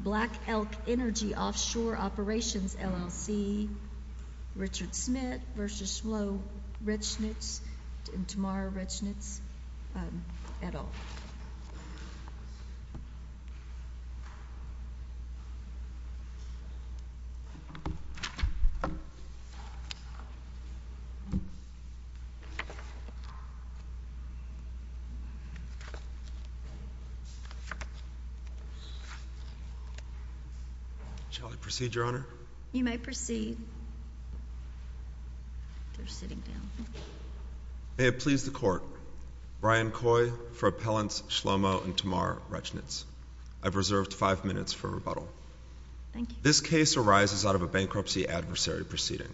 Black Elk Energy Offshore Operations, LLC. Richard Schmidt v. Schmlow, Rechnitz, and Tamara Rechnitz, et al. May it please the Court, Brian Coy for Appellants Schlomo and Tamara Rechnitz, I've reserved five minutes for rebuttal. This case arises out of a bankruptcy adversary proceeding.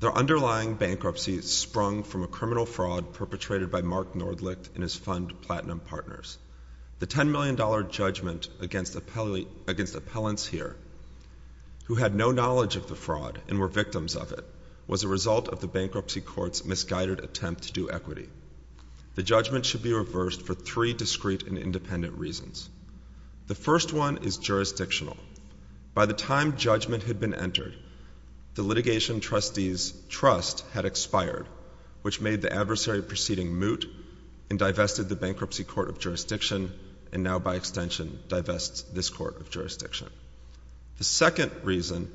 Their underlying bankruptcy sprung from a criminal fraud perpetrated by Mark Nordlicht and his fund Platinum Partners. The $10 million judgment against appellants here, who had no knowledge of the fraud and were victims of it, was a result of the bankruptcy court's misguided attempt to do equity. The judgment should be reversed for three discrete and independent reasons. The first one is jurisdictional. By the time judgment had been entered, the litigation trustee's trust had expired, which made the adversary proceeding moot and divested the bankruptcy court of jurisdiction and now, by extension, divests this court of jurisdiction. The second reason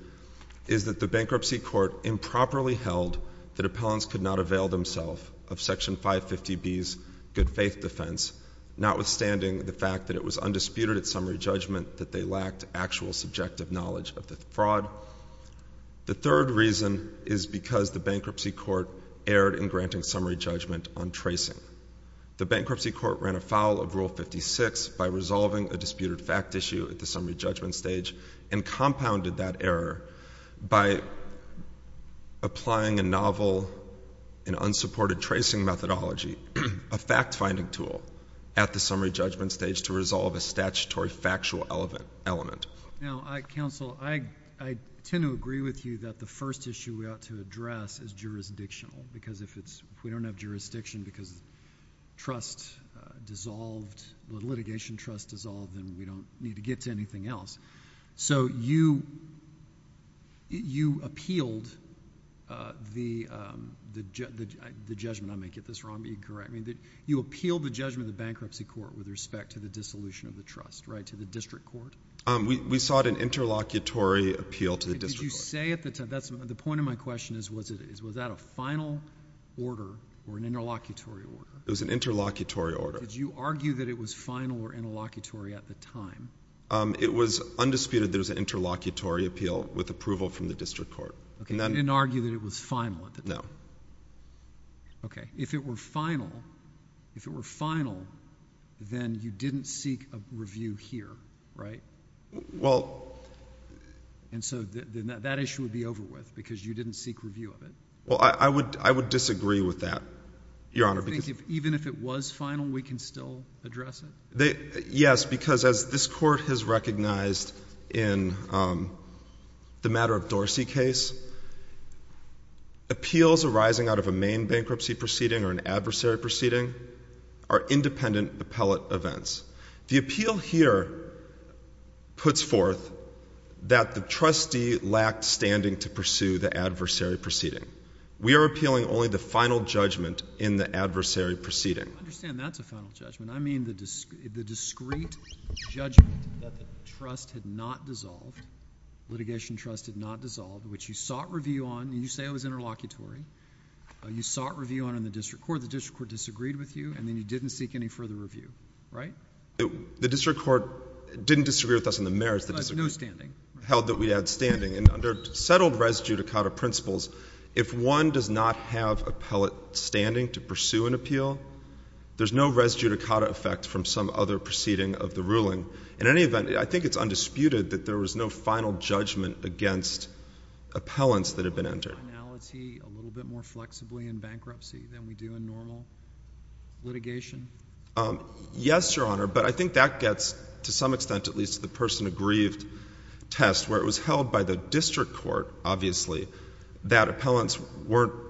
is that the bankruptcy court improperly held that appellants could not avail themselves of Section 550B's good-faith defense, notwithstanding the fact that it was undisputed at summary judgment that they lacked actual subjective knowledge of the fraud. The third reason is because the bankruptcy court erred in granting summary judgment on tracing. The bankruptcy court ran afoul of Rule 56 by resolving a disputed fact issue at the summary judgment stage and compounded that error by applying a novel and unsupported tracing methodology, a fact-finding tool, at the summary judgment stage to resolve a statutory factual element. Now, counsel, I tend to agree with you that the first issue we ought to address is jurisdictional because if we don't have jurisdiction because the litigation trust dissolved, then we don't need to get to anything else. So you appealed the judgment—I may get this wrong, but you can correct me—you appealed the judgment of the bankruptcy court with respect to the dissolution of the trust, right, to the district court? We sought an interlocutory appeal to the district court. Did you say at the time—the point of my question is was that a final order or an interlocutory order? It was an interlocutory order. Did you argue that it was final or interlocutory at the time? It was undisputed that it was an interlocutory appeal with approval from the district court. Okay. You didn't argue that it was final at the time? No. Okay. So if it were final, if it were final, then you didn't seek a review here, right? Well— And so that issue would be over with because you didn't seek review of it. Well, I would disagree with that, Your Honor, because— Even if it was final, we can still address it? Yes, because as this Court has recognized in the matter of Dorsey case, appeals arising out of a main bankruptcy proceeding or an adversary proceeding are independent appellate events. The appeal here puts forth that the trustee lacked standing to pursue the adversary proceeding. We are appealing only the final judgment in the adversary proceeding. I understand that's a final judgment. I mean the discrete judgment that the trust had not dissolved, litigation trust had not dissolved. You sought review on it in the district court. The district court disagreed with you, and then you didn't seek any further review, right? The district court didn't disagree with us in the merits that disagreed— No standing. —held that we had standing. And under settled res judicata principles, if one does not have appellate standing to pursue an appeal, there's no res judicata effect from some other proceeding of the ruling. In any event, I think it's undisputed that there was no final judgment against appellants that had been entered. Do we do our finality a little bit more flexibly in bankruptcy than we do in normal litigation? Yes, Your Honor, but I think that gets, to some extent at least, to the person aggrieved test where it was held by the district court, obviously, that appellants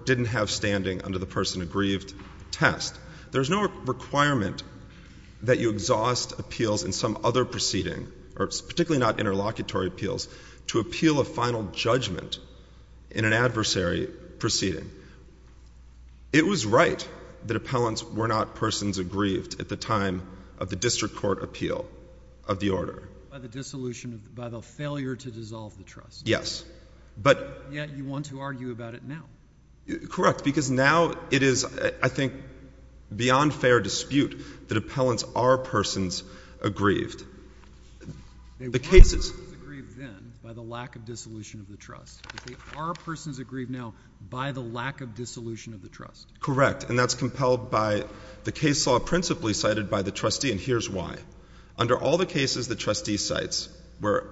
didn't have standing under the person aggrieved test. There's no requirement that you exhaust appeals in some other proceeding, particularly not interlocutory appeals, to appeal a final judgment in an adversary proceeding. It was right that appellants were not persons aggrieved at the time of the district court appeal of the order. By the dissolution, by the failure to dissolve the trust. Yes. But— Yet you want to argue about it now. Correct, because now it is, I think, beyond fair dispute that appellants are persons aggrieved. They were persons aggrieved then by the lack of dissolution of the trust, but they are persons aggrieved now by the lack of dissolution of the trust. Correct. And that's compelled by the case law principally cited by the trustee, and here's why. Under all the cases the trustee cites where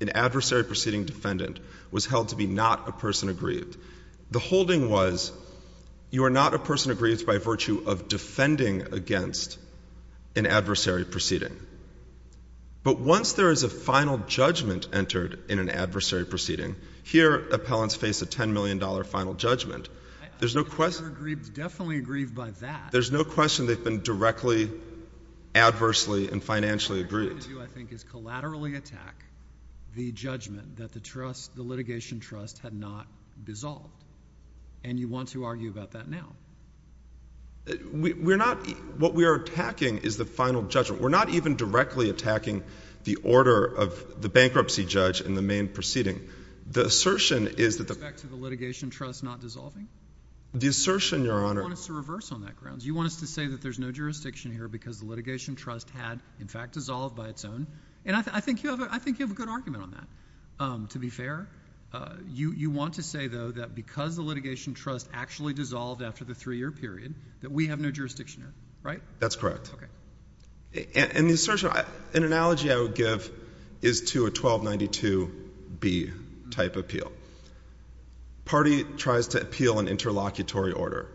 an adversary proceeding defendant was held to be not a person aggrieved, the holding was you are not a person aggrieved by virtue of defending against an adversary proceeding. But once there is a final judgment entered in an adversary proceeding, here appellants face a $10 million final judgment. There's no question— I think they were aggrieved, definitely aggrieved by that. There's no question they've been directly, adversely, and financially aggrieved. All you're trying to do, I think, is collaterally attack the judgment that the trust, the litigation trust had not dissolved. And you want to argue about that now. We're not—what we are attacking is the final judgment. We're not even directly attacking the order of the bankruptcy judge in the main proceeding. The assertion is that— In respect to the litigation trust not dissolving? The assertion, Your Honor— You want us to reverse on that grounds. You want us to say that there's no jurisdiction here because the litigation trust had, in fact, dissolved by its own. And I think you have a good argument on that, to be fair. You want to say, though, that because the litigation trust actually dissolved after the three-year period, that we have no jurisdiction here, right? That's correct. Okay. And the assertion—an analogy I would give is to a 1292B type appeal. Party tries to appeal an interlocutory order.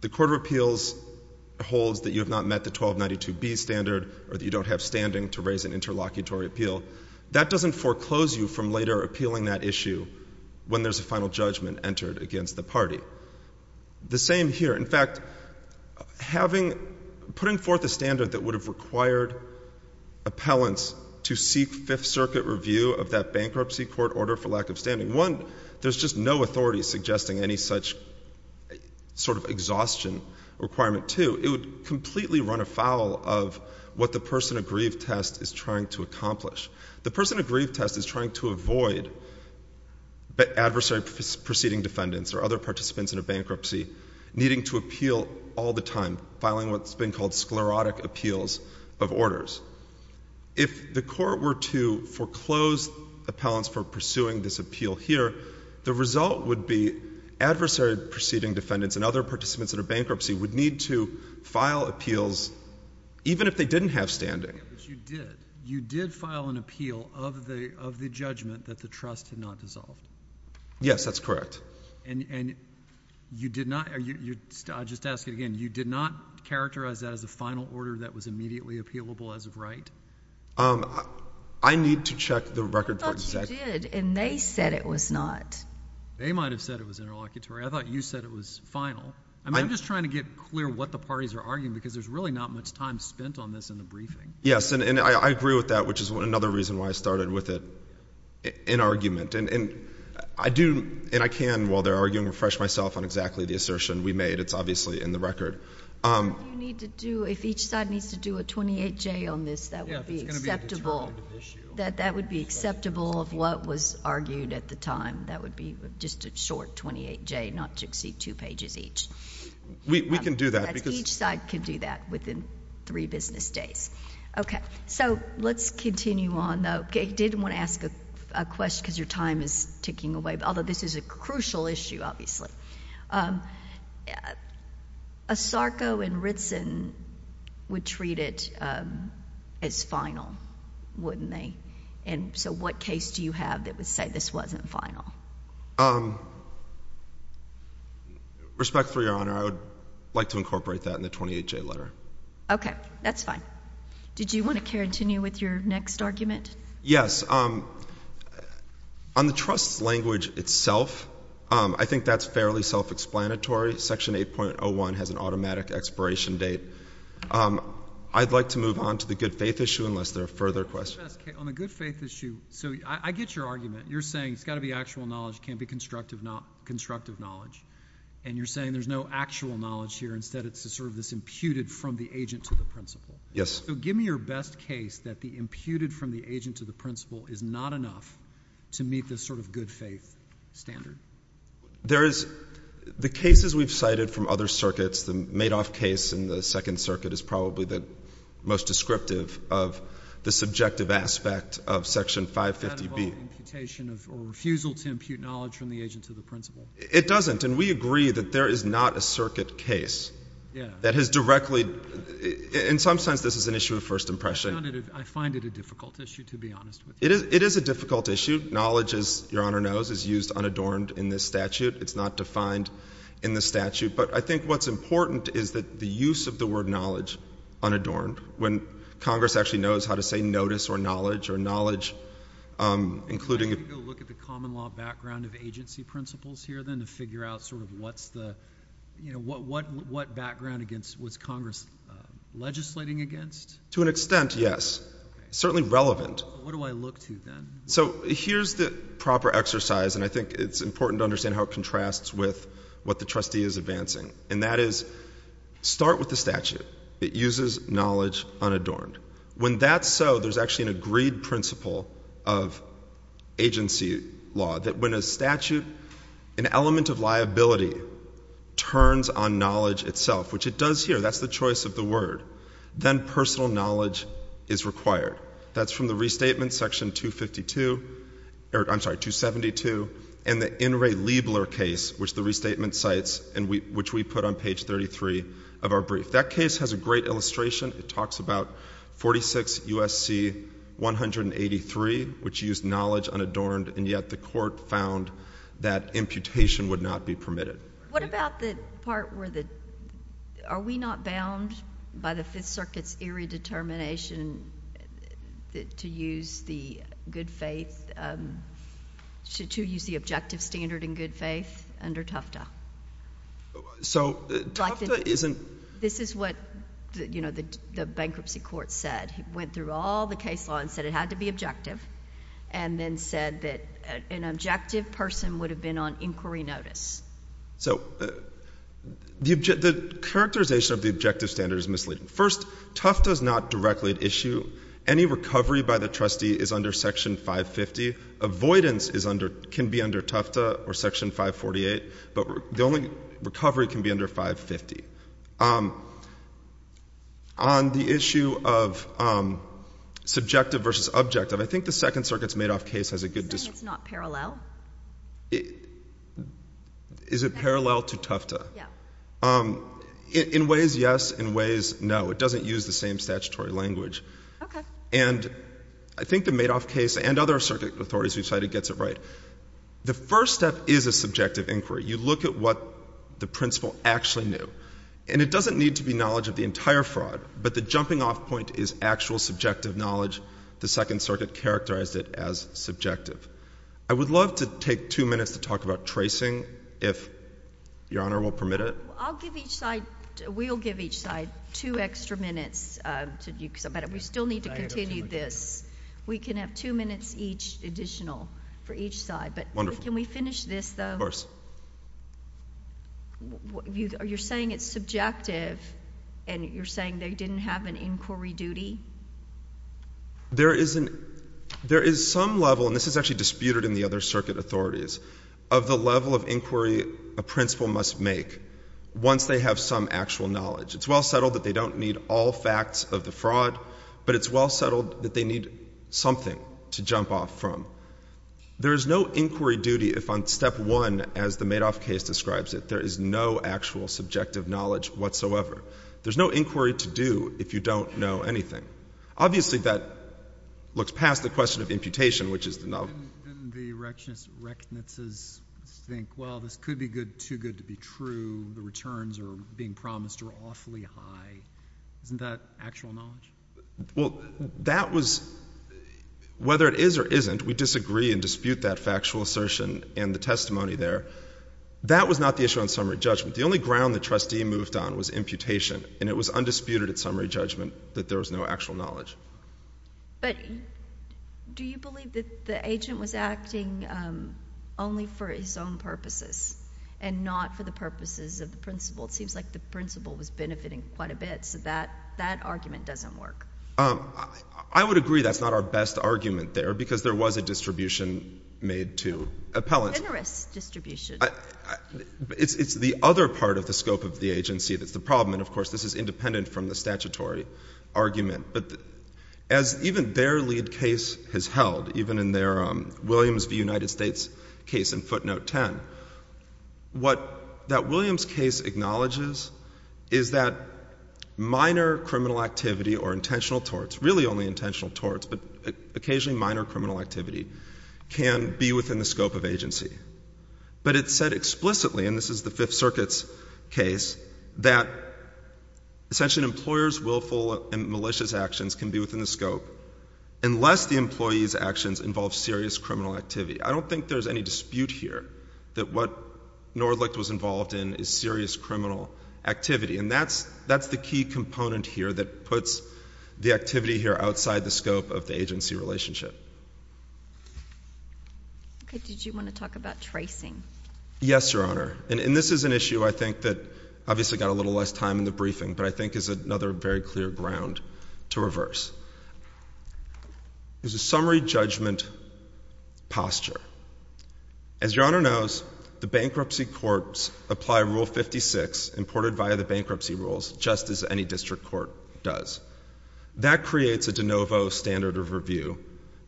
The Court of Appeals holds that you have not met the 1292B standard or that you don't have standing to raise an interlocutory appeal. That doesn't foreclose you from later appealing that issue when there's a final judgment entered against the party. The same here. In fact, putting forth a standard that would have required appellants to seek Fifth Circuit review of that bankruptcy court order for lack of standing, one, there's just no authority suggesting any such sort of exhaustion requirement. Part two, it would completely run afoul of what the person aggrieved test is trying to accomplish. The person aggrieved test is trying to avoid adversary proceeding defendants or other participants in a bankruptcy needing to appeal all the time, filing what's been called sclerotic appeals of orders. If the court were to foreclose appellants for pursuing this appeal here, the result would be adversary proceeding defendants and other participants in a bankruptcy would need to file appeals even if they didn't have standing. But you did. You did file an appeal of the judgment that the trust had not dissolved. Yes, that's correct. And you did not, I'll just ask it again, you did not characterize that as a final order that was immediately appealable as of right? I need to check the record for exact— I thought you did, and they said it was not. They might have said it was interlocutory. I thought you said it was final. I'm just trying to get clear what the parties are arguing because there's really not much time spent on this in the briefing. Yes, and I agree with that, which is another reason why I started with it in argument. And I do, and I can while they're arguing, refresh myself on exactly the assertion we made. It's obviously in the record. You need to do, if each side needs to do a 28-J on this, that would be acceptable. That would be acceptable of what was argued at the time. That would be just a short 28-J, not to exceed two pages each. We can do that because— Each side can do that within three business days. Okay, so let's continue on though. I did want to ask a question because your time is ticking away, although this is a crucial issue obviously. ASARCO and Ritson would treat it as final, wouldn't they? So what case do you have that would say this wasn't final? Respectfully, Your Honor, I would like to incorporate that in the 28-J letter. Okay, that's fine. Did you want to continue with your next argument? Yes. On the trust's language itself, I think that's fairly self-explanatory. Section 8.01 has an automatic expiration date. I'd like to move on to the good faith issue unless there are further questions. On the good faith issue, so I get your argument. You're saying it's got to be actual knowledge, it can't be constructive knowledge. And you're saying there's no actual knowledge here, instead it's sort of this imputed from the agent to the principal. Yes. So give me your best case that the imputed from the agent to the principal is not enough to meet this sort of good faith standard. The cases we've cited from other circuits, the Madoff case in the Second Circuit is probably the most descriptive of the subjective aspect of Section 550B. Is that about imputation or refusal to impute knowledge from the agent to the principal? It doesn't. And we agree that there is not a circuit case that has directly, in some sense this is an issue of first impression. I find it a difficult issue, to be honest with you. It is a difficult issue. Knowledge, as Your Honor knows, is used unadorned in this statute. It's not defined in the statute. But I think what's important is that the use of the word knowledge unadorned, when Congress actually knows how to say notice or knowledge, or knowledge including... Can I go look at the common law background of agency principles here then to figure out sort of what's the, you know, what background was Congress legislating against? To an extent, yes. Certainly relevant. What do I look to then? So here's the proper exercise, and I think it's important to understand how it contrasts with what the trustee is advancing. And that is, start with the statute that uses knowledge unadorned. When that's so, there's actually an agreed principle of agency law that when a statute, an element of liability, turns on knowledge itself, which it does here, that's the choice of the word, then personal knowledge is required. That's from the Restatement Section 252, or I'm sorry, 272, and the In re Libler case, which the Restatement cites, and which we put on page 33 of our brief. That case has a great illustration. It talks about 46 U.S.C. 183, which used knowledge unadorned, and yet the court found that imputation would not be permitted. What about the part where the... are we not bound by the Fifth Circuit's eerie determination to use the objective standard in good faith under Tufta? So Tufta isn't... This is what the bankruptcy court said. It went through all the case law and said it had to be objective, and then said that an objective person would have been on inquiry notice. So the characterization of the objective standard is misleading. First, Tufta is not directly at issue. Any recovery by the trustee is under Section 550. Avoidance can be under Tufta or Section 548, but the only recovery can be under 550. On the issue of subjective versus objective, I think the Second Circuit's Madoff case has a good... It's not parallel? Is it parallel to Tufta? Yeah. In ways, yes. In ways, no. It doesn't use the same statutory language. Okay. And I think the Madoff case and other circuit authorities we've cited gets it right. The first step is a subjective inquiry. You look at what the principal actually knew, and it doesn't need to be knowledge of the entire fraud, but the jumping-off point is actual subjective knowledge. The Second Circuit characterized it as subjective. I would love to take two minutes to talk about tracing, if Your Honor will permit it. I'll give each side... We'll give each side two extra minutes. We still need to continue this. We can have two minutes each, additional, for each side, but can we finish this, though? Of course. You're saying it's subjective, and you're saying they didn't have an inquiry duty? There is some level, and this is actually disputed in the other circuit authorities, of the level of inquiry a principal must make once they have some actual knowledge. It's well settled that they don't need all facts of the fraud, but it's well settled that they need something to jump off from. There is no inquiry duty if on Step 1, as the Madoff case describes it, there is no actual subjective knowledge whatsoever. There's no inquiry to do if you don't know anything. Obviously, that looks past the question of imputation, which is the null... Didn't the reckonances think, well, this could be good, too good to be true, the returns are being promised are awfully high? Isn't that actual knowledge? Well, that was... Whether it is or isn't, we disagree and dispute that factual assertion and the testimony there. That was not the issue on summary judgment. The only ground the trustee moved on was imputation, and it was undisputed at summary judgment that there was no actual knowledge. But do you believe that the agent was acting only for his own purposes and not for the purposes of the principal? It seems like the principal was benefiting quite a bit, so that argument doesn't work. I would agree that's not our best argument there, because there was a distribution made to appellants. A generous distribution. It's the other part of the scope of the agency that's the problem, and, of course, this is independent from the statutory argument. But as even their lead case has held, even in their Williams v. United States case in footnote 10, what that Williams case acknowledges is that minor criminal activity or intentional torts, really only intentional torts, but occasionally minor criminal activity, can be within the scope of agency. But it said explicitly, and this is the Fifth Circuit's case, that essentially an employer's willful and malicious actions can be within the scope unless the employee's actions involve serious criminal activity. I don't think there's any dispute here that what Nordlicht was involved in is serious criminal activity, and that's the key component here that puts the activity here outside the scope of the agency relationship. Okay. Did you want to talk about tracing? Yes, Your Honor. And this is an issue, I think, that obviously got a little less time in the briefing, but I think is another very clear ground to reverse. There's a summary judgment posture. As Your Honor knows, the bankruptcy courts apply Rule 56, imported via the bankruptcy rules, just as any district court does. That creates a de novo standard of review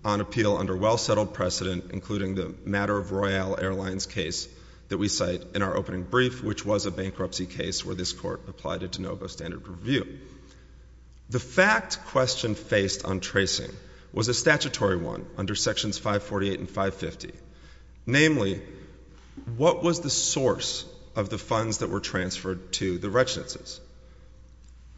on appeal under well-settled precedent, including the Matter of Royale Airlines case that we cite in our opening brief, which was a bankruptcy case where this court applied a de novo standard of review. The fact question faced on tracing was a statutory one under Sections 548 and 550. Namely, what was the source of the funds that were transferred to the retinences?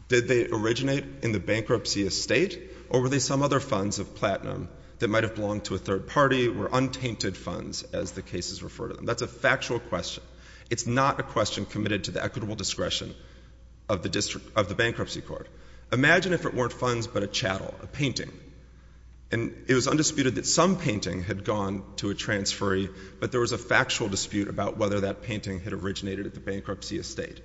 Did they originate in the bankruptcy estate, or were they some other funds of platinum that might have belonged to a third party, or untainted funds, as the cases refer to them? That's a factual question. It's not a question committed to the equitable discretion of the bankruptcy court. Imagine if it weren't funds, but a chattel, a painting, and it was undisputed that some painting had gone to a transferee, but there was a factual dispute about whether that painting had originated at the bankruptcy estate.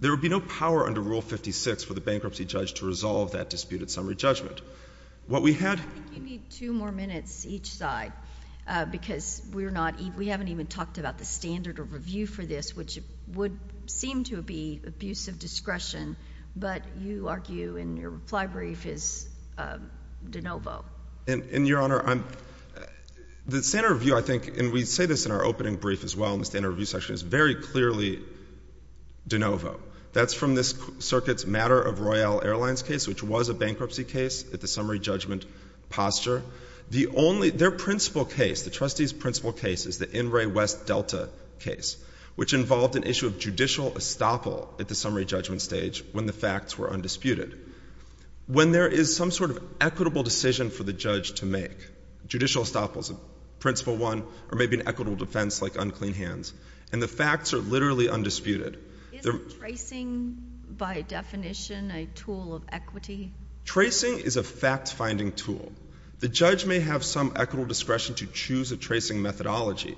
There would be no power under Rule 56 for the bankruptcy judge to resolve that disputed summary judgment. What we had— I think you need two more minutes each side, because we haven't even talked about the standard of review for this, which would seem to be abuse of discretion, but you argue in your reply brief is de novo. And, Your Honor, the standard of review, I think, and we say this in our opening brief as well in the standard of review section, is very clearly de novo. That's from this circuit's matter of Royal Airlines case, which was a bankruptcy case at the summary judgment posture. The only—their principal case, the trustee's principal case, is the In re West Delta case, which involved an issue of judicial estoppel at the summary judgment stage when the facts were undisputed. When there is some sort of equitable decision for the judge to make, judicial estoppel is principle one, or maybe an equitable defense like unclean hands. And the facts are literally undisputed. Isn't tracing, by definition, a tool of equity? Tracing is a fact-finding tool. The judge may have some equitable discretion to choose a tracing methodology,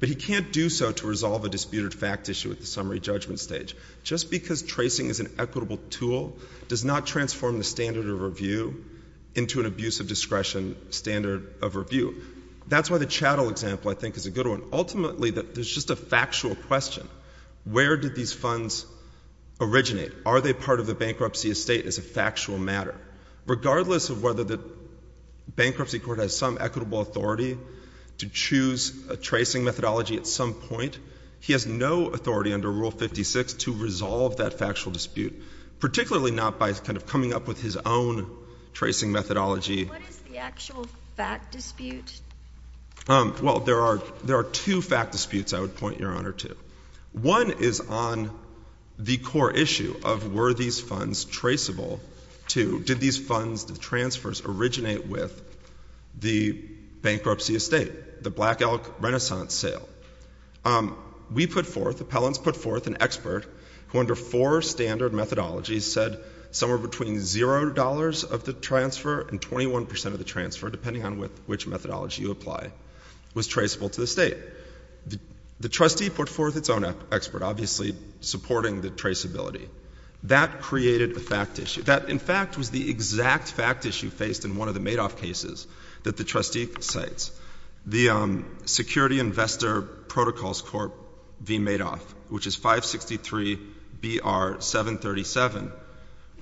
but he can't do so to resolve a disputed fact issue at the summary judgment stage. Just because tracing is an equitable tool does not transform the standard of review into an abuse of discretion standard of review. That's why the chattel example, I think, is a good one. Ultimately, there's just a factual question. Where did these funds originate? Are they part of the bankruptcy estate as a factual matter? Regardless of whether the bankruptcy court has some equitable authority to choose a tracing methodology at some point, he has no authority under Rule 56 to resolve that factual dispute, particularly not by kind of coming up with his own tracing methodology. What is the actual fact dispute? Well, there are two fact disputes I would point Your Honor to. One is on the core issue of were these funds traceable to, did these funds, the transfers, originate with the bankruptcy estate, the Black Elk Renaissance sale? We put forth, appellants put forth, an expert who under four standard methodologies said somewhere between zero dollars of the transfer and 21 percent of the transfer, depending on which methodology you apply, was traceable to the state. The trustee put forth its own expert, obviously supporting the traceability. That created a fact issue. That, in fact, was the exact fact issue faced in one of the Madoff cases that the trustee cites, the Security Investor Protocols Corp v. Madoff, which is 563-BR-737,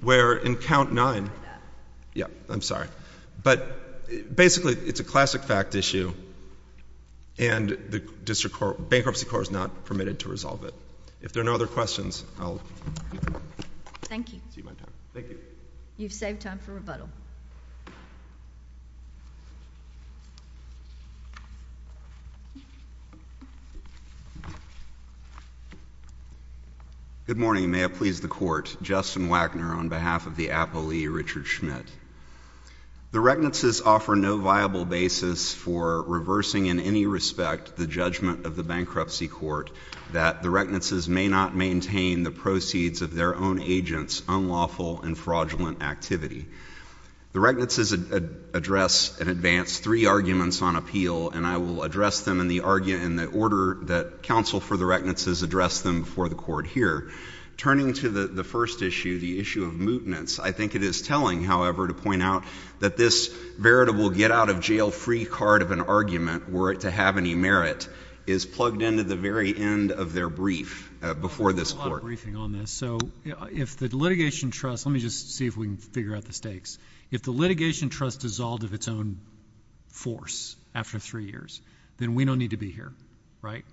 where in count nine, yeah, I'm sorry. But basically, it's a classic fact issue, and the district bankruptcy court is not permitted to resolve it. If there are no other questions, I'll take my time. Thank you. Thank you. You've saved time for rebuttal. Thank you. Good morning. May it please the Court. Justin Wagner on behalf of the appellee, Richard Schmidt. The reckonances offer no viable basis for reversing in any respect the judgment of the bankruptcy court that the reckonances may not maintain the proceeds of their own agents' unlawful and fraudulent activity. The reckonances address and advance three arguments on appeal, and I will address them in the order that counsel for the reckonances addressed them before the Court here. Turning to the first issue, the issue of mootnance, I think it is telling, however, to point out that this veritable get-out-of-jail-free card of an argument, were it to have any merit, is plugged into the very end of their brief before this Court. We've done a lot of briefing on this. If the litigation trust—let me just see if we can figure out the stakes. If the litigation trust dissolved of its own force after three years, then we don't need to be here, right?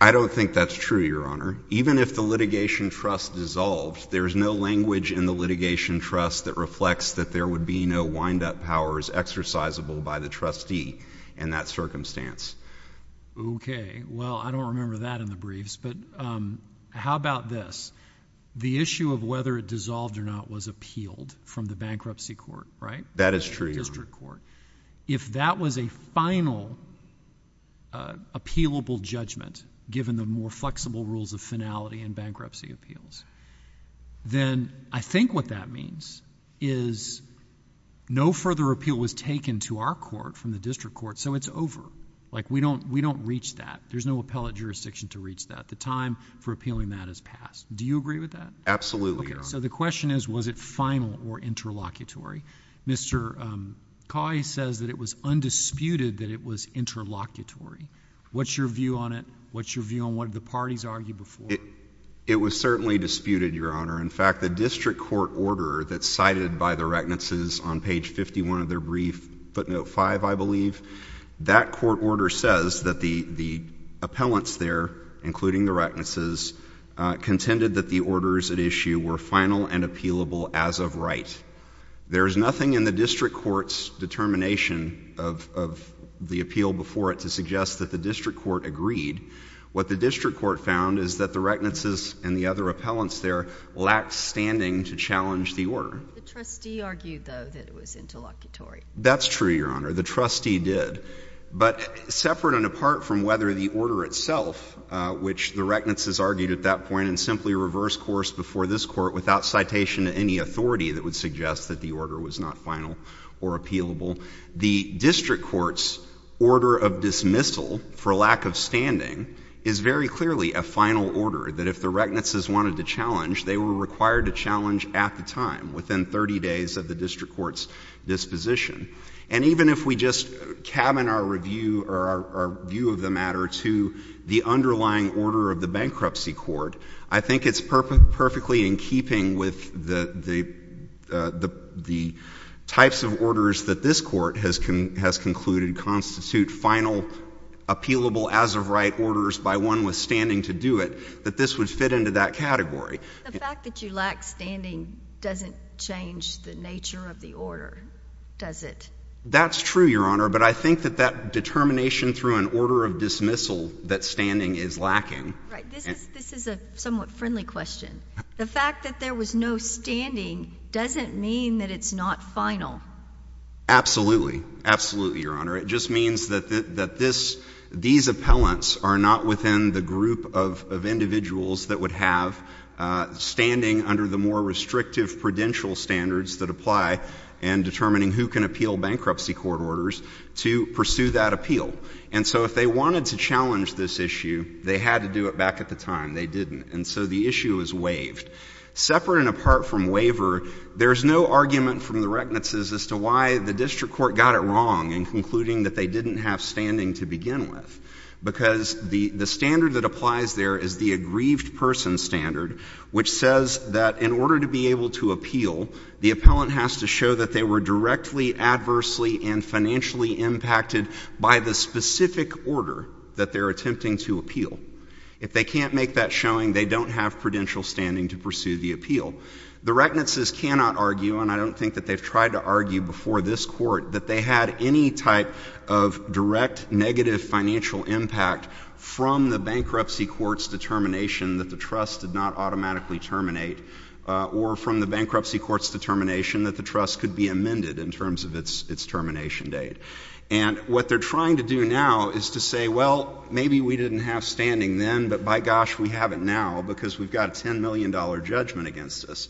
I don't think that's true, Your Honor. Even if the litigation trust dissolved, there is no language in the litigation trust that reflects that there would be no wind-up powers exercisable by the trustee in that circumstance. Okay. Well, I don't remember that in the briefs, but how about this? The issue of whether it dissolved or not was appealed from the bankruptcy court, right? That is true, Your Honor. District court. If that was a final appealable judgment, given the more flexible rules of finality and bankruptcy appeals, then I think what that means is no further appeal was taken to our court from the district court, so it's over. Like, we don't reach that. There's no appellate jurisdiction to reach that. The time for appealing that has passed. Do you agree with that? Absolutely, Your Honor. So the question is, was it final or interlocutory? Mr. Coy says that it was undisputed that it was interlocutory. What's your view on it? What's your view on what the parties argued before? It was certainly disputed, Your Honor. In fact, the district court order that's cited by the Reckonances on page 51 of their brief, footnote five, I believe, that court order says that the appellants there, including the Reckonances, contended that the orders at issue were final and appealable as of right. There's nothing in the district court's determination of the appeal before it to suggest that the district court agreed. What the district court found is that the Reckonances and the other appellants there lacked standing to challenge the order. The trustee argued, though, that it was interlocutory. That's true, Your Honor. The trustee did. But separate and apart from whether the order itself, which the Reckonances argued at that point and simply reversed course before this Court without citation to any authority that would suggest that the order was not final or appealable, the district court's order of dismissal for lack of standing is very clearly a final order that if the Reckonances wanted to challenge, they were required to challenge at the time, within 30 days of the district court's disposition. And even if we just cabin our review or our view of the matter to the underlying order of the bankruptcy court, I think it's perfectly in keeping with the types of orders that this court has concluded constitute final, appealable as of right orders by one withstanding to do it, that this would fit into that category. The fact that you lack standing doesn't change the nature of the order, does it? That's true, Your Honor. But I think that that determination through an order of dismissal that standing is lacking. Right. This is a somewhat friendly question. The fact that there was no standing doesn't mean that it's not final. Absolutely. Absolutely, Your Honor. It just means that these appellants are not within the group of individuals that would have standing under the more restrictive prudential standards that apply and determining who can appeal bankruptcy court orders to pursue that appeal. And so if they wanted to challenge this issue, they had to do it back at the time. They didn't. And so the issue is waived. Separate and apart from waiver, there's no argument from the reckonances as to why the district court got it wrong in concluding that they didn't have standing to begin with. Because the standard that applies there is the aggrieved person standard, which says that in order to be able to appeal, the appellant has to show that they were directly, adversely, and financially impacted by the specific order that they're attempting to appeal. If they can't make that showing, they don't have prudential standing to pursue the appeal. The reckonances cannot argue, and I don't think that they've tried to argue before this court, that they had any type of direct negative financial impact from the bankruptcy court's determination that the trust did not automatically terminate or from the bankruptcy court's determination that the trust could be amended in terms of its termination date. And what they're trying to do now is to say, well, maybe we didn't have standing then, but by gosh, we have it now because we've got a $10 million judgment against us.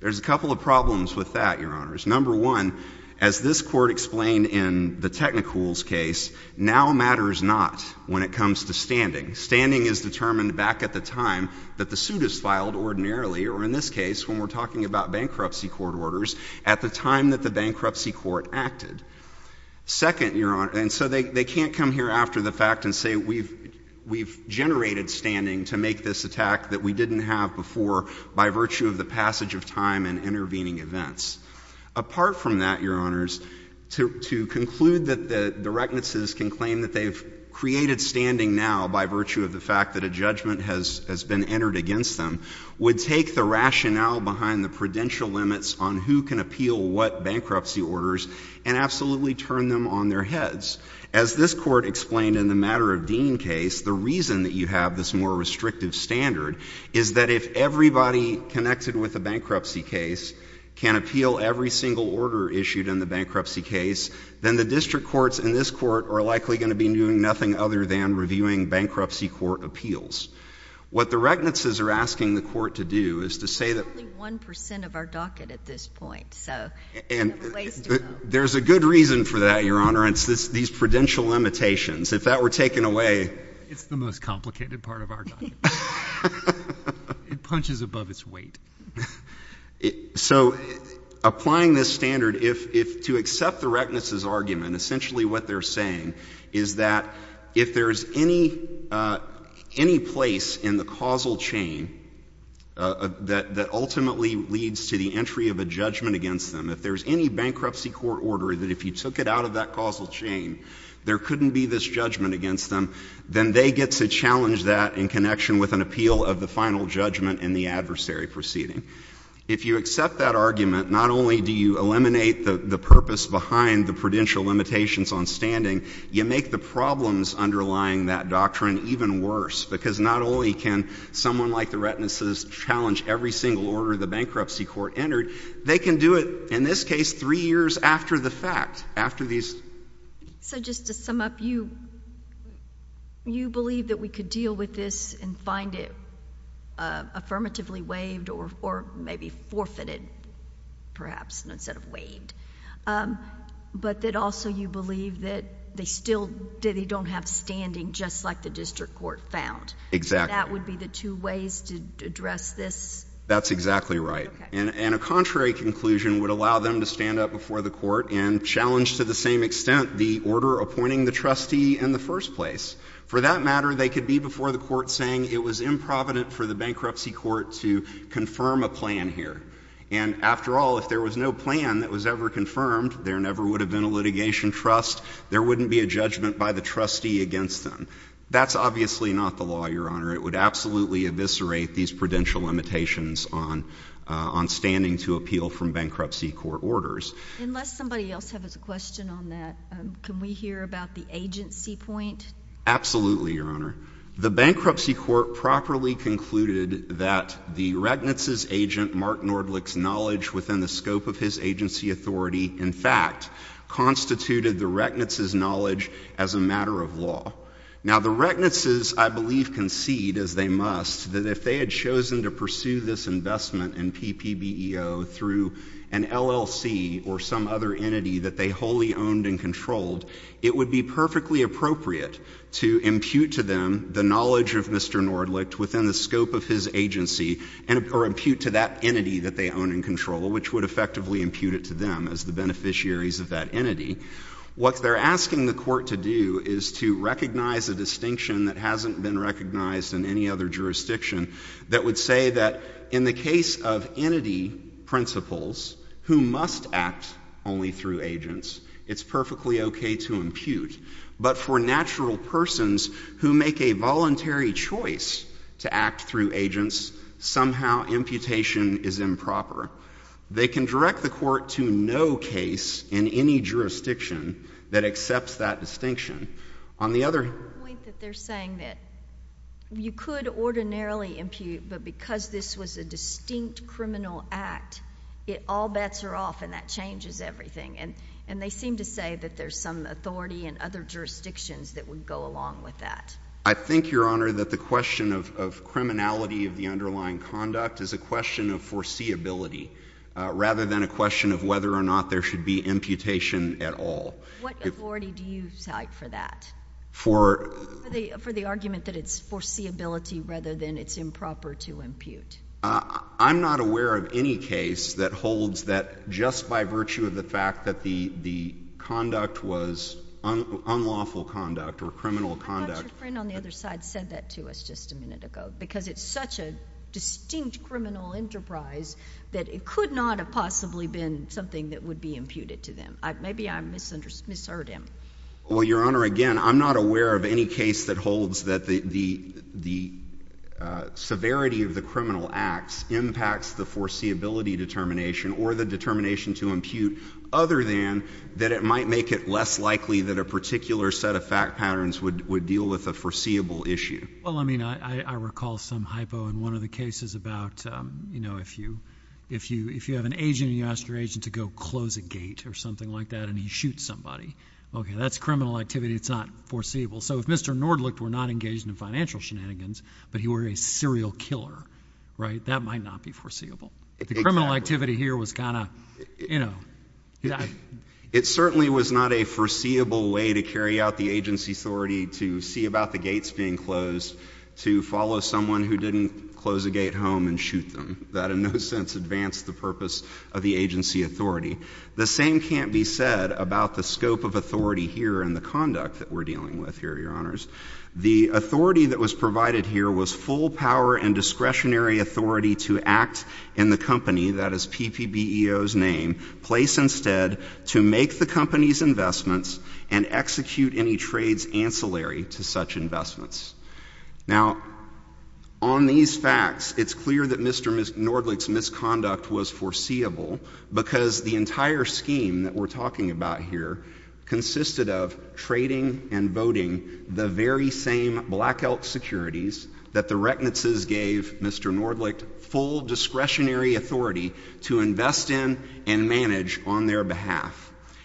There's a couple of problems with that, Your Honors. Number one, as this court explained in the Technicool's case, now matters not when it comes to standing. Standing is determined back at the time that the suit is filed ordinarily, or in this case, when we're talking about bankruptcy court orders, at the time that the bankruptcy court acted. Second, Your Honor, and so they can't come here after the fact and say we've generated standing to make this attack that we didn't have before by virtue of the passage of time and intervening events. Apart from that, Your Honors, to conclude that the reckonances can claim that they've created standing now by virtue of the fact that a judgment has been entered against them would take the rationale behind the prudential limits on who can appeal what bankruptcy orders and absolutely turn them on their heads. As this court explained in the Matter of Dean case, the reason that you have this more restrictive standard is that if everybody connected with a bankruptcy case can appeal every single order issued in the bankruptcy case, then the district courts in this court are likely going to be doing nothing other than reviewing bankruptcy court appeals. What the reckonances are asking the court to do is to say that— Only 1% of our docket at this point, so ways to go. There's a good reason for that, Your Honor, and it's these prudential limitations. If that were taken away— It's the most complicated part of our docket. It punches above its weight. So applying this standard, to accept the reckonances argument, essentially what they're saying is that if there's any place in the causal chain that ultimately leads to the entry of a judgment against them, if there's any bankruptcy court order that if you took it out of that causal chain, there couldn't be this judgment against them, then they get to challenge that in connection with an appeal of the final judgment and the adversary proceeding. If you accept that argument, not only do you eliminate the purpose behind the prudential limitations on standing, you make the problems underlying that doctrine even worse, because not only can someone like the reckonances challenge every single order the bankruptcy court entered, they can do it, in this case, three years after the fact, after these— So just to sum up, you believe that we could deal with this and find it affirmatively waived or maybe forfeited, perhaps, instead of waived, but that also you believe that they still—they don't have standing, just like the district court found. Exactly. And that would be the two ways to address this? That's exactly right. And a contrary conclusion would allow them to stand up before the court and challenge to the same extent the order appointing the trustee in the first place. For that matter, they could be before the court saying it was improvident for the bankruptcy court to confirm a plan here. And after all, if there was no plan that was ever confirmed, there never would have been a litigation trust. There wouldn't be a judgment by the trustee against them. That's obviously not the law, Your Honor. It would absolutely eviscerate these prudential limitations on standing to appeal from bankruptcy court orders. Unless somebody else has a question on that, can we hear about the agency point? Absolutely, Your Honor. The bankruptcy court properly concluded that the recknesses agent Mark Nordlich's knowledge within the scope of his agency authority, in fact, constituted the recknesses' knowledge as a matter of law. Now, the recknesses, I believe, concede, as they must, that if they had chosen to pursue this investment in PPBEO through an LLC or some other entity that they wholly owned and the knowledge of Mr. Nordlich within the scope of his agency or impute to that entity that they own and control, which would effectively impute it to them as the beneficiaries of that entity, what they're asking the court to do is to recognize a distinction that hasn't been recognized in any other jurisdiction that would say that in the case of entity principles who must act only through agents, it's perfectly okay to impute. But for natural persons who make a voluntary choice to act through agents, somehow imputation is improper. They can direct the court to no case in any jurisdiction that accepts that distinction. On the other hand— The point that they're saying that you could ordinarily impute, but because this was a distinct criminal act, all bets are off and that changes everything. And they seem to say that there's some authority in other jurisdictions that would go along with that. I think, Your Honor, that the question of criminality of the underlying conduct is a question of foreseeability rather than a question of whether or not there should be imputation at all. What authority do you cite for that? For the argument that it's foreseeability rather than it's improper to impute. I'm not aware of any case that holds that just by virtue of the fact that the conduct was unlawful conduct or criminal conduct— How about your friend on the other side said that to us just a minute ago? Because it's such a distinct criminal enterprise that it could not have possibly been something that would be imputed to them. Maybe I misheard him. Well, Your Honor, again, I'm not aware of any case that holds that the severity of the criminal acts impacts the foreseeability determination or the determination to impute other than that it might make it less likely that a particular set of fact patterns would deal with a foreseeable issue. Well, I mean, I recall some hypo in one of the cases about, you know, if you have an agent and you ask your agent to go close a gate or something like that and he shoots somebody, okay, that's criminal activity. It's not foreseeable. So if Mr. Nordlicht were not engaged in financial shenanigans but he were a serial killer, right, that might not be foreseeable. The criminal activity here was kind of, you know— It certainly was not a foreseeable way to carry out the agency authority to see about the gates being closed, to follow someone who didn't close a gate home and shoot them. That in no sense advanced the purpose of the agency authority. The same can't be said about the scope of authority here and the conduct that we're dealing with here, Your Honors. The authority that was provided here was full power and discretionary authority to act in the company, that is PPBEO's name, place instead to make the company's investments and execute any trades ancillary to such investments. Now, on these facts, it's clear that Mr. Nordlicht's misconduct was foreseeable because the entire scheme that we're talking about here consisted of trading and voting the very same Black Elk securities that the Recknitzes gave Mr. Nordlicht full discretionary authority to invest in and manage on their behalf.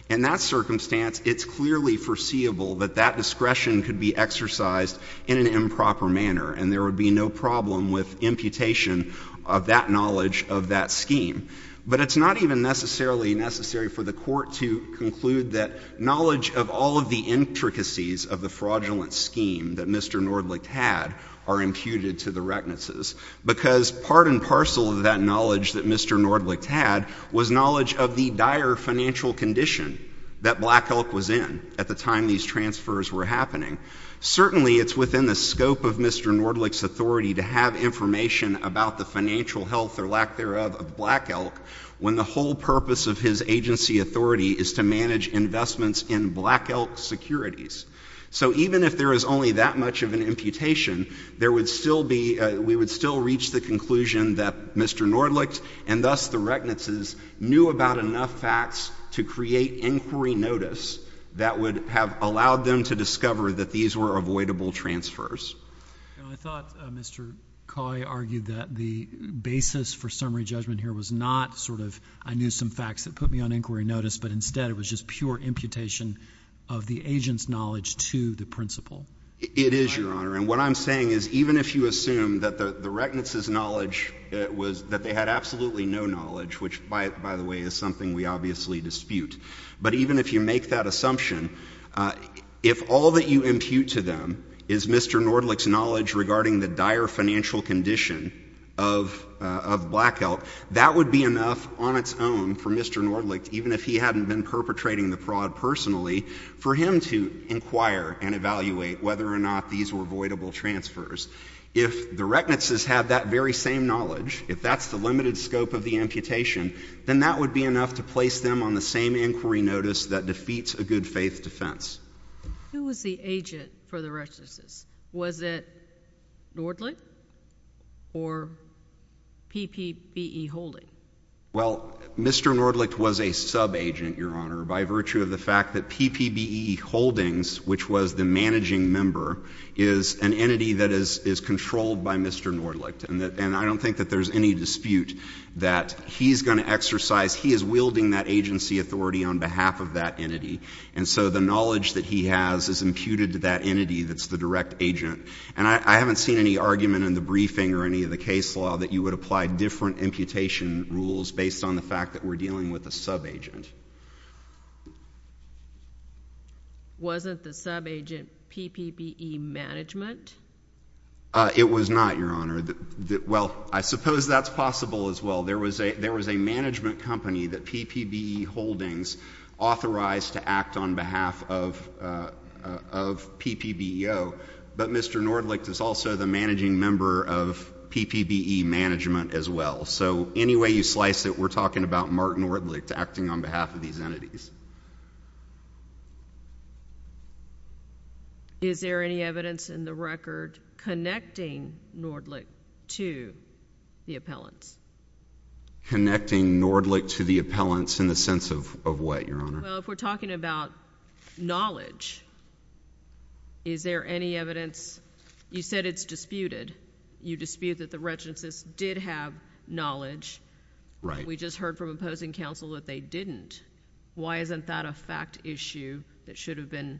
In that circumstance, it's clearly foreseeable that that discretion could be exercised in an improper manner, and there would be no problem with imputation of that knowledge of that scheme. But it's not even necessarily necessary for the Court to conclude that knowledge of all of the intricacies of the fraudulent scheme that Mr. Nordlicht had are imputed to the Recknitzes because part and parcel of that knowledge that Mr. Nordlicht had was knowledge of the dire financial condition that Black Elk was in at the time these transfers were happening. Certainly, it's within the scope of Mr. Nordlicht's authority to have information about the when the whole purpose of his agency authority is to manage investments in Black Elk securities. So even if there is only that much of an imputation, we would still reach the conclusion that Mr. Nordlicht, and thus the Recknitzes, knew about enough facts to create inquiry notice that would have allowed them to discover that these were avoidable transfers. And I thought Mr. Coy argued that the basis for summary judgment here was not sort of I knew some facts that put me on inquiry notice, but instead it was just pure imputation of the agent's knowledge to the principal. It is, Your Honor. And what I'm saying is even if you assume that the Recknitzes' knowledge was that they had absolutely no knowledge, which, by the way, is something we obviously dispute. But even if you make that assumption, if all that you impute to them is Mr. Nordlicht's knowledge regarding the dire financial condition of Black Elk, that would be enough on its own for Mr. Nordlicht, even if he hadn't been perpetrating the fraud personally, for him to inquire and evaluate whether or not these were avoidable transfers. If the Recknitzes had that very same knowledge, if that's the limited scope of the inquiry notice that defeats a good faith defense. Who was the agent for the Recknitzes? Was it Nordlicht or PPBE Holdings? Well, Mr. Nordlicht was a sub-agent, Your Honor, by virtue of the fact that PPBE Holdings, which was the managing member, is an entity that is controlled by Mr. Nordlicht. And I don't think that there's any dispute that he's going to exercise, he is wielding that agency authority on behalf of that entity. And so the knowledge that he has is imputed to that entity that's the direct agent. And I haven't seen any argument in the briefing or any of the case law that you would apply different imputation rules based on the fact that we're dealing with a sub-agent. Wasn't the sub-agent PPBE Management? It was not, Your Honor. Well, I suppose that's possible as well. There was a management company that PPBE Holdings authorized to act on behalf of PPBEO, but Mr. Nordlicht is also the managing member of PPBE Management as well. So any way you slice it, we're talking about Mark Nordlicht acting on behalf of these entities. Is there any evidence in the record connecting Nordlicht to the appellants? Connecting Nordlicht to the appellants in the sense of what, Your Honor? Well, if we're talking about knowledge, is there any evidence? You said it's disputed. You dispute that the retinacists did have knowledge. Right. We just heard from opposing counsel that they didn't. Why isn't that a fact issue that should have been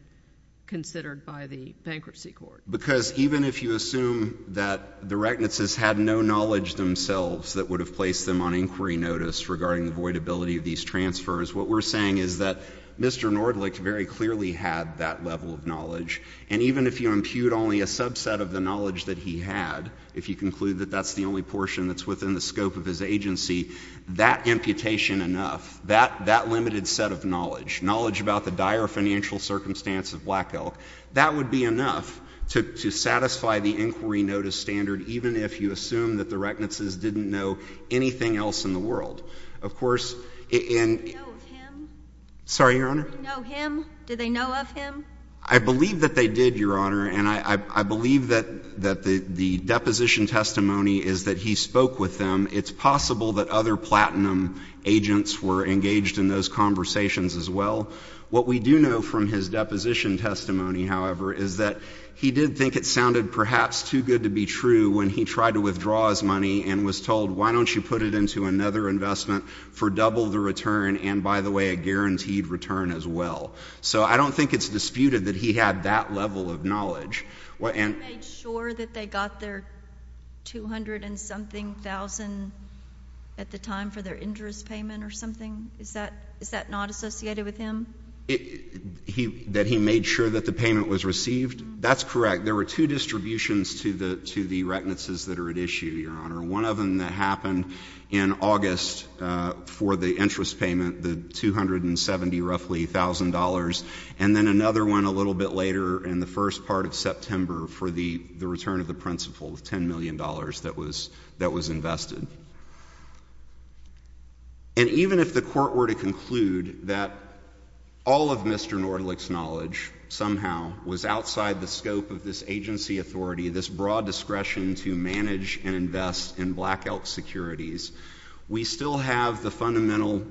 considered by the bankruptcy court? Because even if you assume that the retinacists had no knowledge themselves that would have placed them on inquiry notice regarding the voidability of these transfers, what we're saying is that Mr. Nordlicht very clearly had that level of knowledge, and even if you impute only a subset of the knowledge that he had, if you conclude that that's the only set of knowledge, knowledge about the dire financial circumstance of Black Elk, that would be enough to satisfy the inquiry notice standard, even if you assume that the retinacists didn't know anything else in the world. Of course, and— Did they know of him? Sorry, Your Honor? Did they know of him? I believe that they did, Your Honor, and I believe that the deposition testimony is that he spoke with them. It's possible that other platinum agents were engaged in those conversations as well. What we do know from his deposition testimony, however, is that he did think it sounded perhaps too good to be true when he tried to withdraw his money and was told, why don't you put it into another investment for double the return and, by the way, a guaranteed return as well? So I don't think it's disputed that he had that level of knowledge. He made sure that they got their $200-and-something thousand at the time for their interest payment or something? Is that not associated with him? That he made sure that the payment was received? That's correct. There were two distributions to the retinacists that are at issue, Your Honor. One of them that happened in August for the interest payment, the $270,000 roughly, and then another one a little bit later in the first part of September for the return of the principal, the $10 million that was invested. And even if the Court were to conclude that all of Mr. Nordlich's knowledge somehow was outside the scope of this agency authority, this broad discretion to manage and invest in Black Elk Securities, we still have the fundamental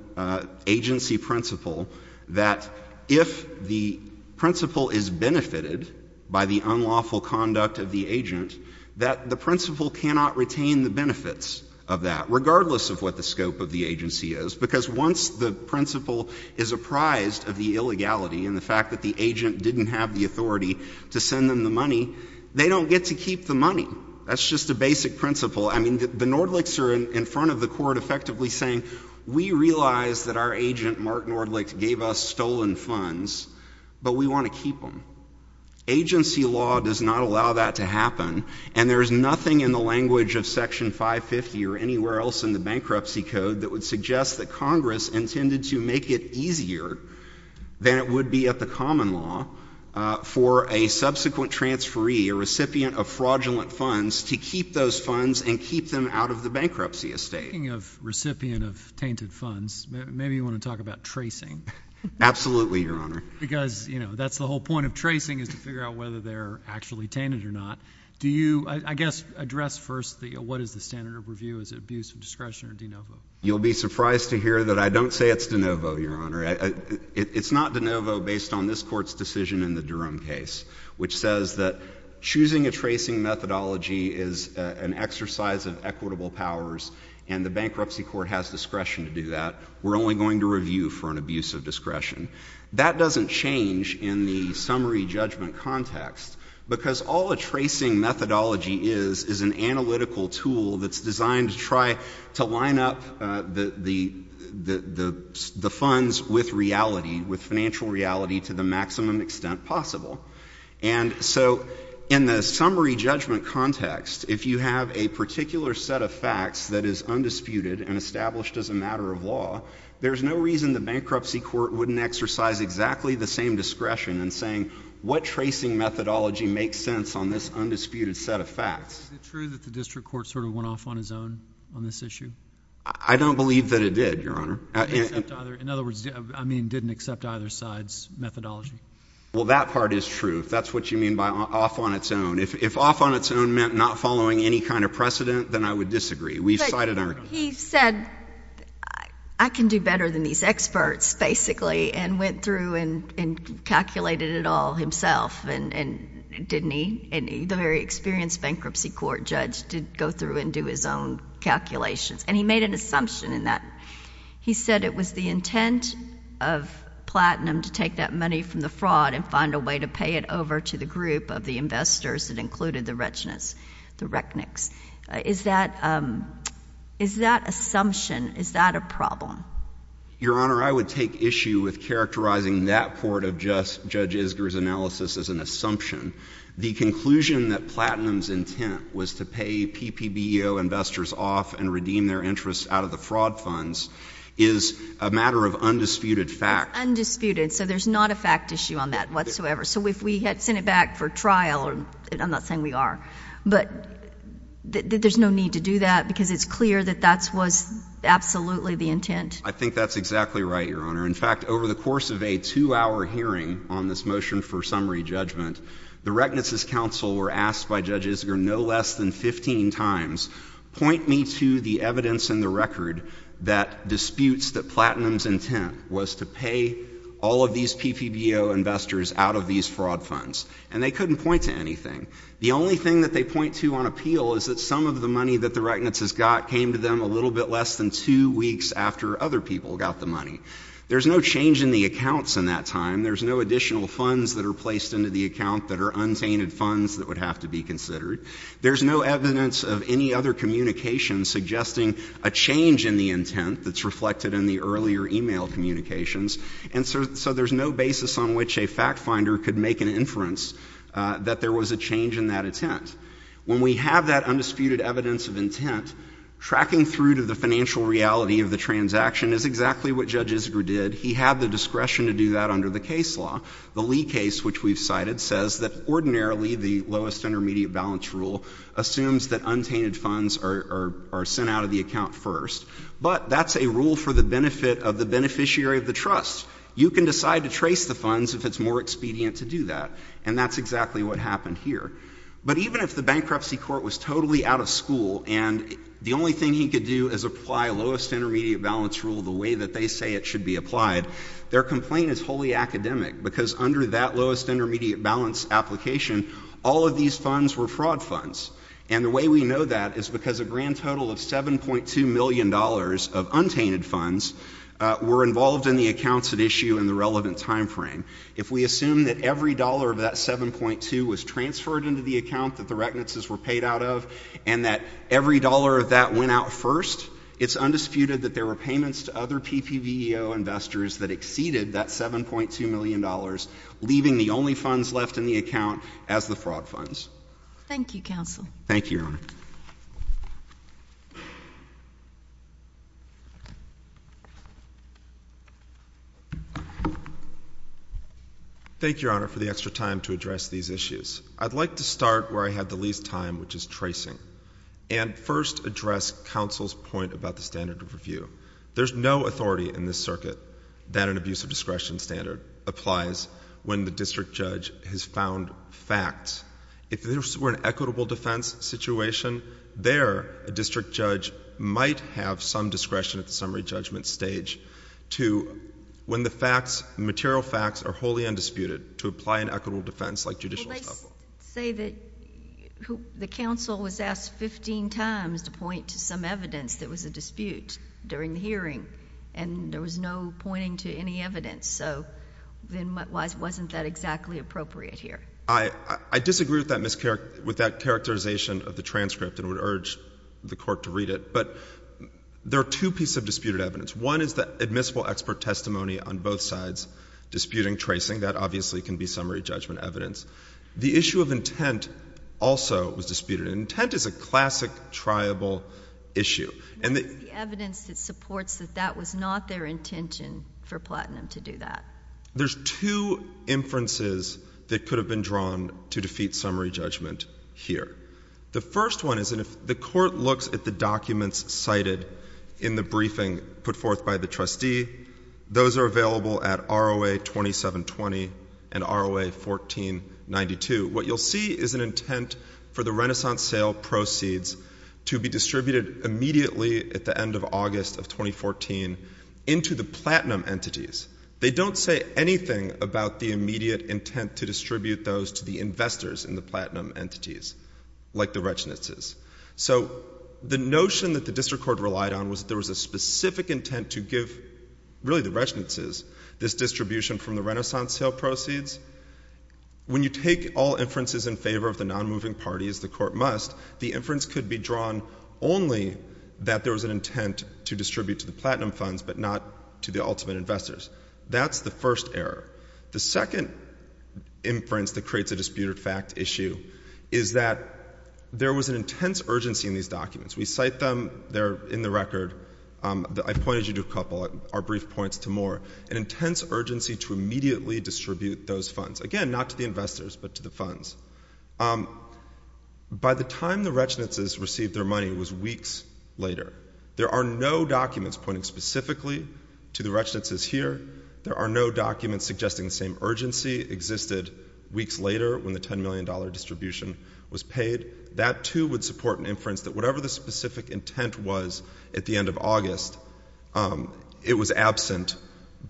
agency principle that if the principal is benefited by the unlawful conduct of the agent, that the principal cannot retain the benefits of that, regardless of what the scope of the agency is. Because once the principal is apprised of the illegality and the fact that the agent didn't have the authority to send them the money, they don't get to keep the money. That's just a basic principle. I mean, the Nordlichs are in front of the Court effectively saying, we realize that our agent, Mark Nordlich, gave us stolen funds, but we want to keep them. Agency law does not allow that to happen, and there is nothing in the language of Section 550 or anywhere else in the Bankruptcy Code that would suggest that Congress intended to make it easier than it would be at the common law for a subsequent transferee, a out of the bankruptcy estate. Speaking of recipient of tainted funds, maybe you want to talk about tracing. Absolutely, Your Honor. Because, you know, that's the whole point of tracing is to figure out whether they're actually tainted or not. Do you, I guess, address first what is the standard of review? Is it abuse of discretion or de novo? You'll be surprised to hear that I don't say it's de novo, Your Honor. It's not de novo based on this Court's decision in the Durham case, which says that choosing a tracing methodology is an exercise of equitable powers, and the Bankruptcy Court has discretion to do that. We're only going to review for an abuse of discretion. That doesn't change in the summary judgment context, because all a tracing methodology is is an analytical tool that's designed to try to line up the funds with reality, with financial reality to the maximum extent possible. And so in the summary judgment context, if you have a particular set of facts that is undisputed and established as a matter of law, there's no reason the Bankruptcy Court wouldn't exercise exactly the same discretion in saying, what tracing methodology makes sense on this undisputed set of facts? Is it true that the District Court sort of went off on his own on this issue? I don't believe that it did, Your Honor. In other words, I mean, didn't accept either side's methodology? Well, that part is true, if that's what you mean by off on its own. If off on its own meant not following any kind of precedent, then I would disagree. We've cited our own. He said, I can do better than these experts, basically, and went through and calculated it all himself, and didn't he? And the very experienced Bankruptcy Court judge did go through and do his own calculations, and he made an assumption in that. He said it was the intent of Platinum to take that money from the fraud and find a way to pay it over to the group of the investors that included the Rechnicks. Is that assumption, is that a problem? Your Honor, I would take issue with characterizing that part of Judge Isger's analysis as an assumption. The conclusion that Platinum's intent was to pay PPBO investors off and redeem their job funds is a matter of undisputed fact. Undisputed. So there's not a fact issue on that whatsoever. So if we had sent it back for trial, I'm not saying we are, but there's no need to do that because it's clear that that was absolutely the intent. I think that's exactly right, Your Honor. In fact, over the course of a two-hour hearing on this motion for summary judgment, the Rechnicks' counsel were asked by Judge Isger no less than 15 times, point me to the evidence in the record that disputes that Platinum's intent was to pay all of these PPBO investors out of these fraud funds. And they couldn't point to anything. The only thing that they point to on appeal is that some of the money that the Rechnicks' got came to them a little bit less than two weeks after other people got the money. There's no change in the accounts in that time. There's no additional funds that are placed into the account that are untainted funds that would have to be considered. There's no evidence of any other communication suggesting a change in the intent that's reflected in the earlier e-mail communications, and so there's no basis on which a factfinder could make an inference that there was a change in that intent. When we have that undisputed evidence of intent, tracking through to the financial reality of the transaction is exactly what Judge Isger did. He had the discretion to do that under the case law. The Lee case, which we've cited, says that ordinarily the lowest intermediate balance rule assumes that untainted funds are sent out of the account first, but that's a rule for the benefit of the beneficiary of the trust. You can decide to trace the funds if it's more expedient to do that, and that's exactly what happened here. But even if the bankruptcy court was totally out of school and the only thing he could do is apply lowest intermediate balance rule the way that they say it should be applied, their complaint is wholly academic, because under that lowest intermediate balance application, all of these funds were fraud funds, and the way we know that is because a grand total of $7.2 million of untainted funds were involved in the accounts at issue in the relevant time frame. If we assume that every dollar of that $7.2 million was transferred into the account that the reckonances were paid out of, and that every dollar of that went out first, it's that exceeded that $7.2 million, leaving the only funds left in the account as the fraud funds. Thank you, Counsel. Thank you, Your Honor. Thank you, Your Honor, for the extra time to address these issues. I'd like to start where I had the least time, which is tracing, and first address Counsel's point about the standard of review. There's no authority in this circuit that an abuse of discretion standard applies when the district judge has found facts. If this were an equitable defense situation, there, a district judge might have some discretion at the summary judgment stage to, when the facts, material facts, are wholly undisputed, to apply an equitable defense like judicial estimation. Well, they say that the counsel was asked 15 times to point to some evidence that was a dispute during the hearing, and there was no pointing to any evidence, so then why wasn't that exactly appropriate here? I disagree with that characterization of the transcript and would urge the Court to read it, but there are two pieces of disputed evidence. One is the admissible expert testimony on both sides disputing tracing. That obviously can be summary judgment evidence. The issue of intent also was disputed, and intent is a classic triable issue. Where is the evidence that supports that that was not their intention for Platinum to do that? There's two inferences that could have been drawn to defeat summary judgment here. The first one is that if the Court looks at the documents cited in the briefing put forth by the trustee, those are available at ROA 2720 and ROA 1492. What you'll see is an intent for the Renaissance sale proceeds to be distributed immediately at the end of August of 2014 into the Platinum entities. They don't say anything about the immediate intent to distribute those to the investors in the Platinum entities, like the Rechnitzes. So the notion that the District Court relied on was that there was a specific intent to give really the Rechnitzes this distribution from the Renaissance sale proceeds. When you take all inferences in favor of the non-moving parties, the Court must, the inference could be drawn only that there was an intent to distribute to the Platinum funds, but not to the ultimate investors. That's the first error. The second inference that creates a disputed fact issue is that there was an intense urgency in these documents. We cite them there in the record. I pointed you to a couple of our brief points to Moore. An intense urgency to immediately distribute those funds. Again, not to the investors, but to the funds. By the time the Rechnitzes received their money, it was weeks later. There are no documents pointing specifically to the Rechnitzes here. There are no documents suggesting the same urgency existed weeks later when the $10 million distribution was paid. That too would support an inference that whatever the specific intent was at the end of August, it was absent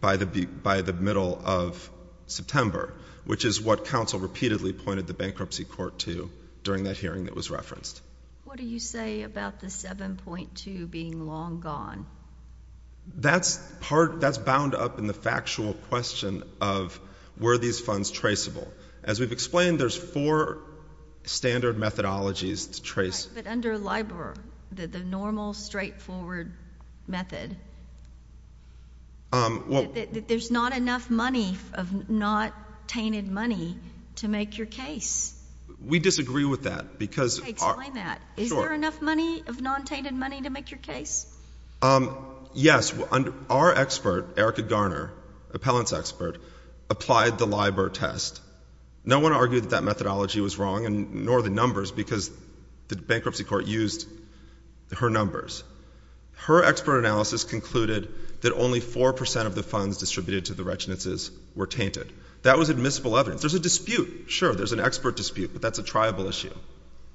by the middle of September, which is what counsel repeatedly pointed the bankruptcy court to during that hearing that was referenced. What do you say about the 7.2 being long gone? That's part, that's bound up in the factual question of were these funds traceable? As we've explained, there's four standard methodologies to trace. But under LIBOR, the normal straightforward method, there's not enough money of not tainted money to make your case. We disagree with that. Explain that. Is there enough money of non-tainted money to make your case? Our expert, Erica Garner, appellant's expert, applied the LIBOR test. No one argued that that methodology was wrong, nor the numbers, because the bankruptcy court used her numbers. Her expert analysis concluded that only 4% of the funds distributed to the Rechnitzes were tainted. That was admissible evidence. There's a dispute. Sure, there's an expert dispute, but that's a triable issue.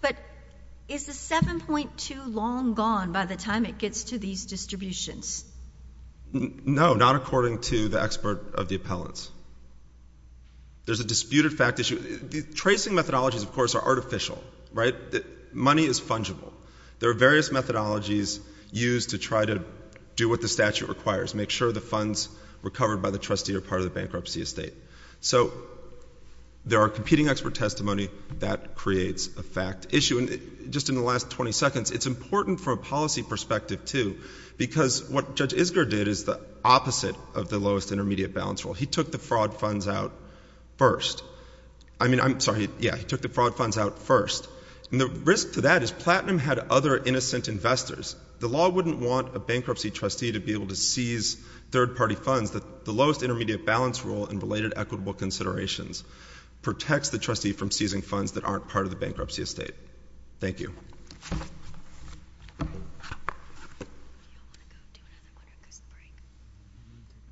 But is the 7.2 long gone by the time it gets to these distributions? No, not according to the expert of the appellants. There's a disputed fact issue. Tracing methodologies, of course, are artificial, right? Money is fungible. There are various methodologies used to try to do what the statute requires, make sure the funds recovered by the trustee are part of the bankruptcy estate. So there are competing expert testimony that creates a fact issue. Just in the last 20 seconds, it's important from a policy perspective, too, because what Judge Isger did is the opposite of the lowest intermediate balance rule. He took the fraud funds out first. I mean, I'm sorry, yeah, he took the fraud funds out first. The risk to that is Platinum had other innocent investors. The law wouldn't want a bankruptcy trustee to be able to seize third-party funds. The lowest intermediate balance rule and related equitable considerations protects the trustee from seizing funds that aren't part of the bankruptcy estate. Thank you.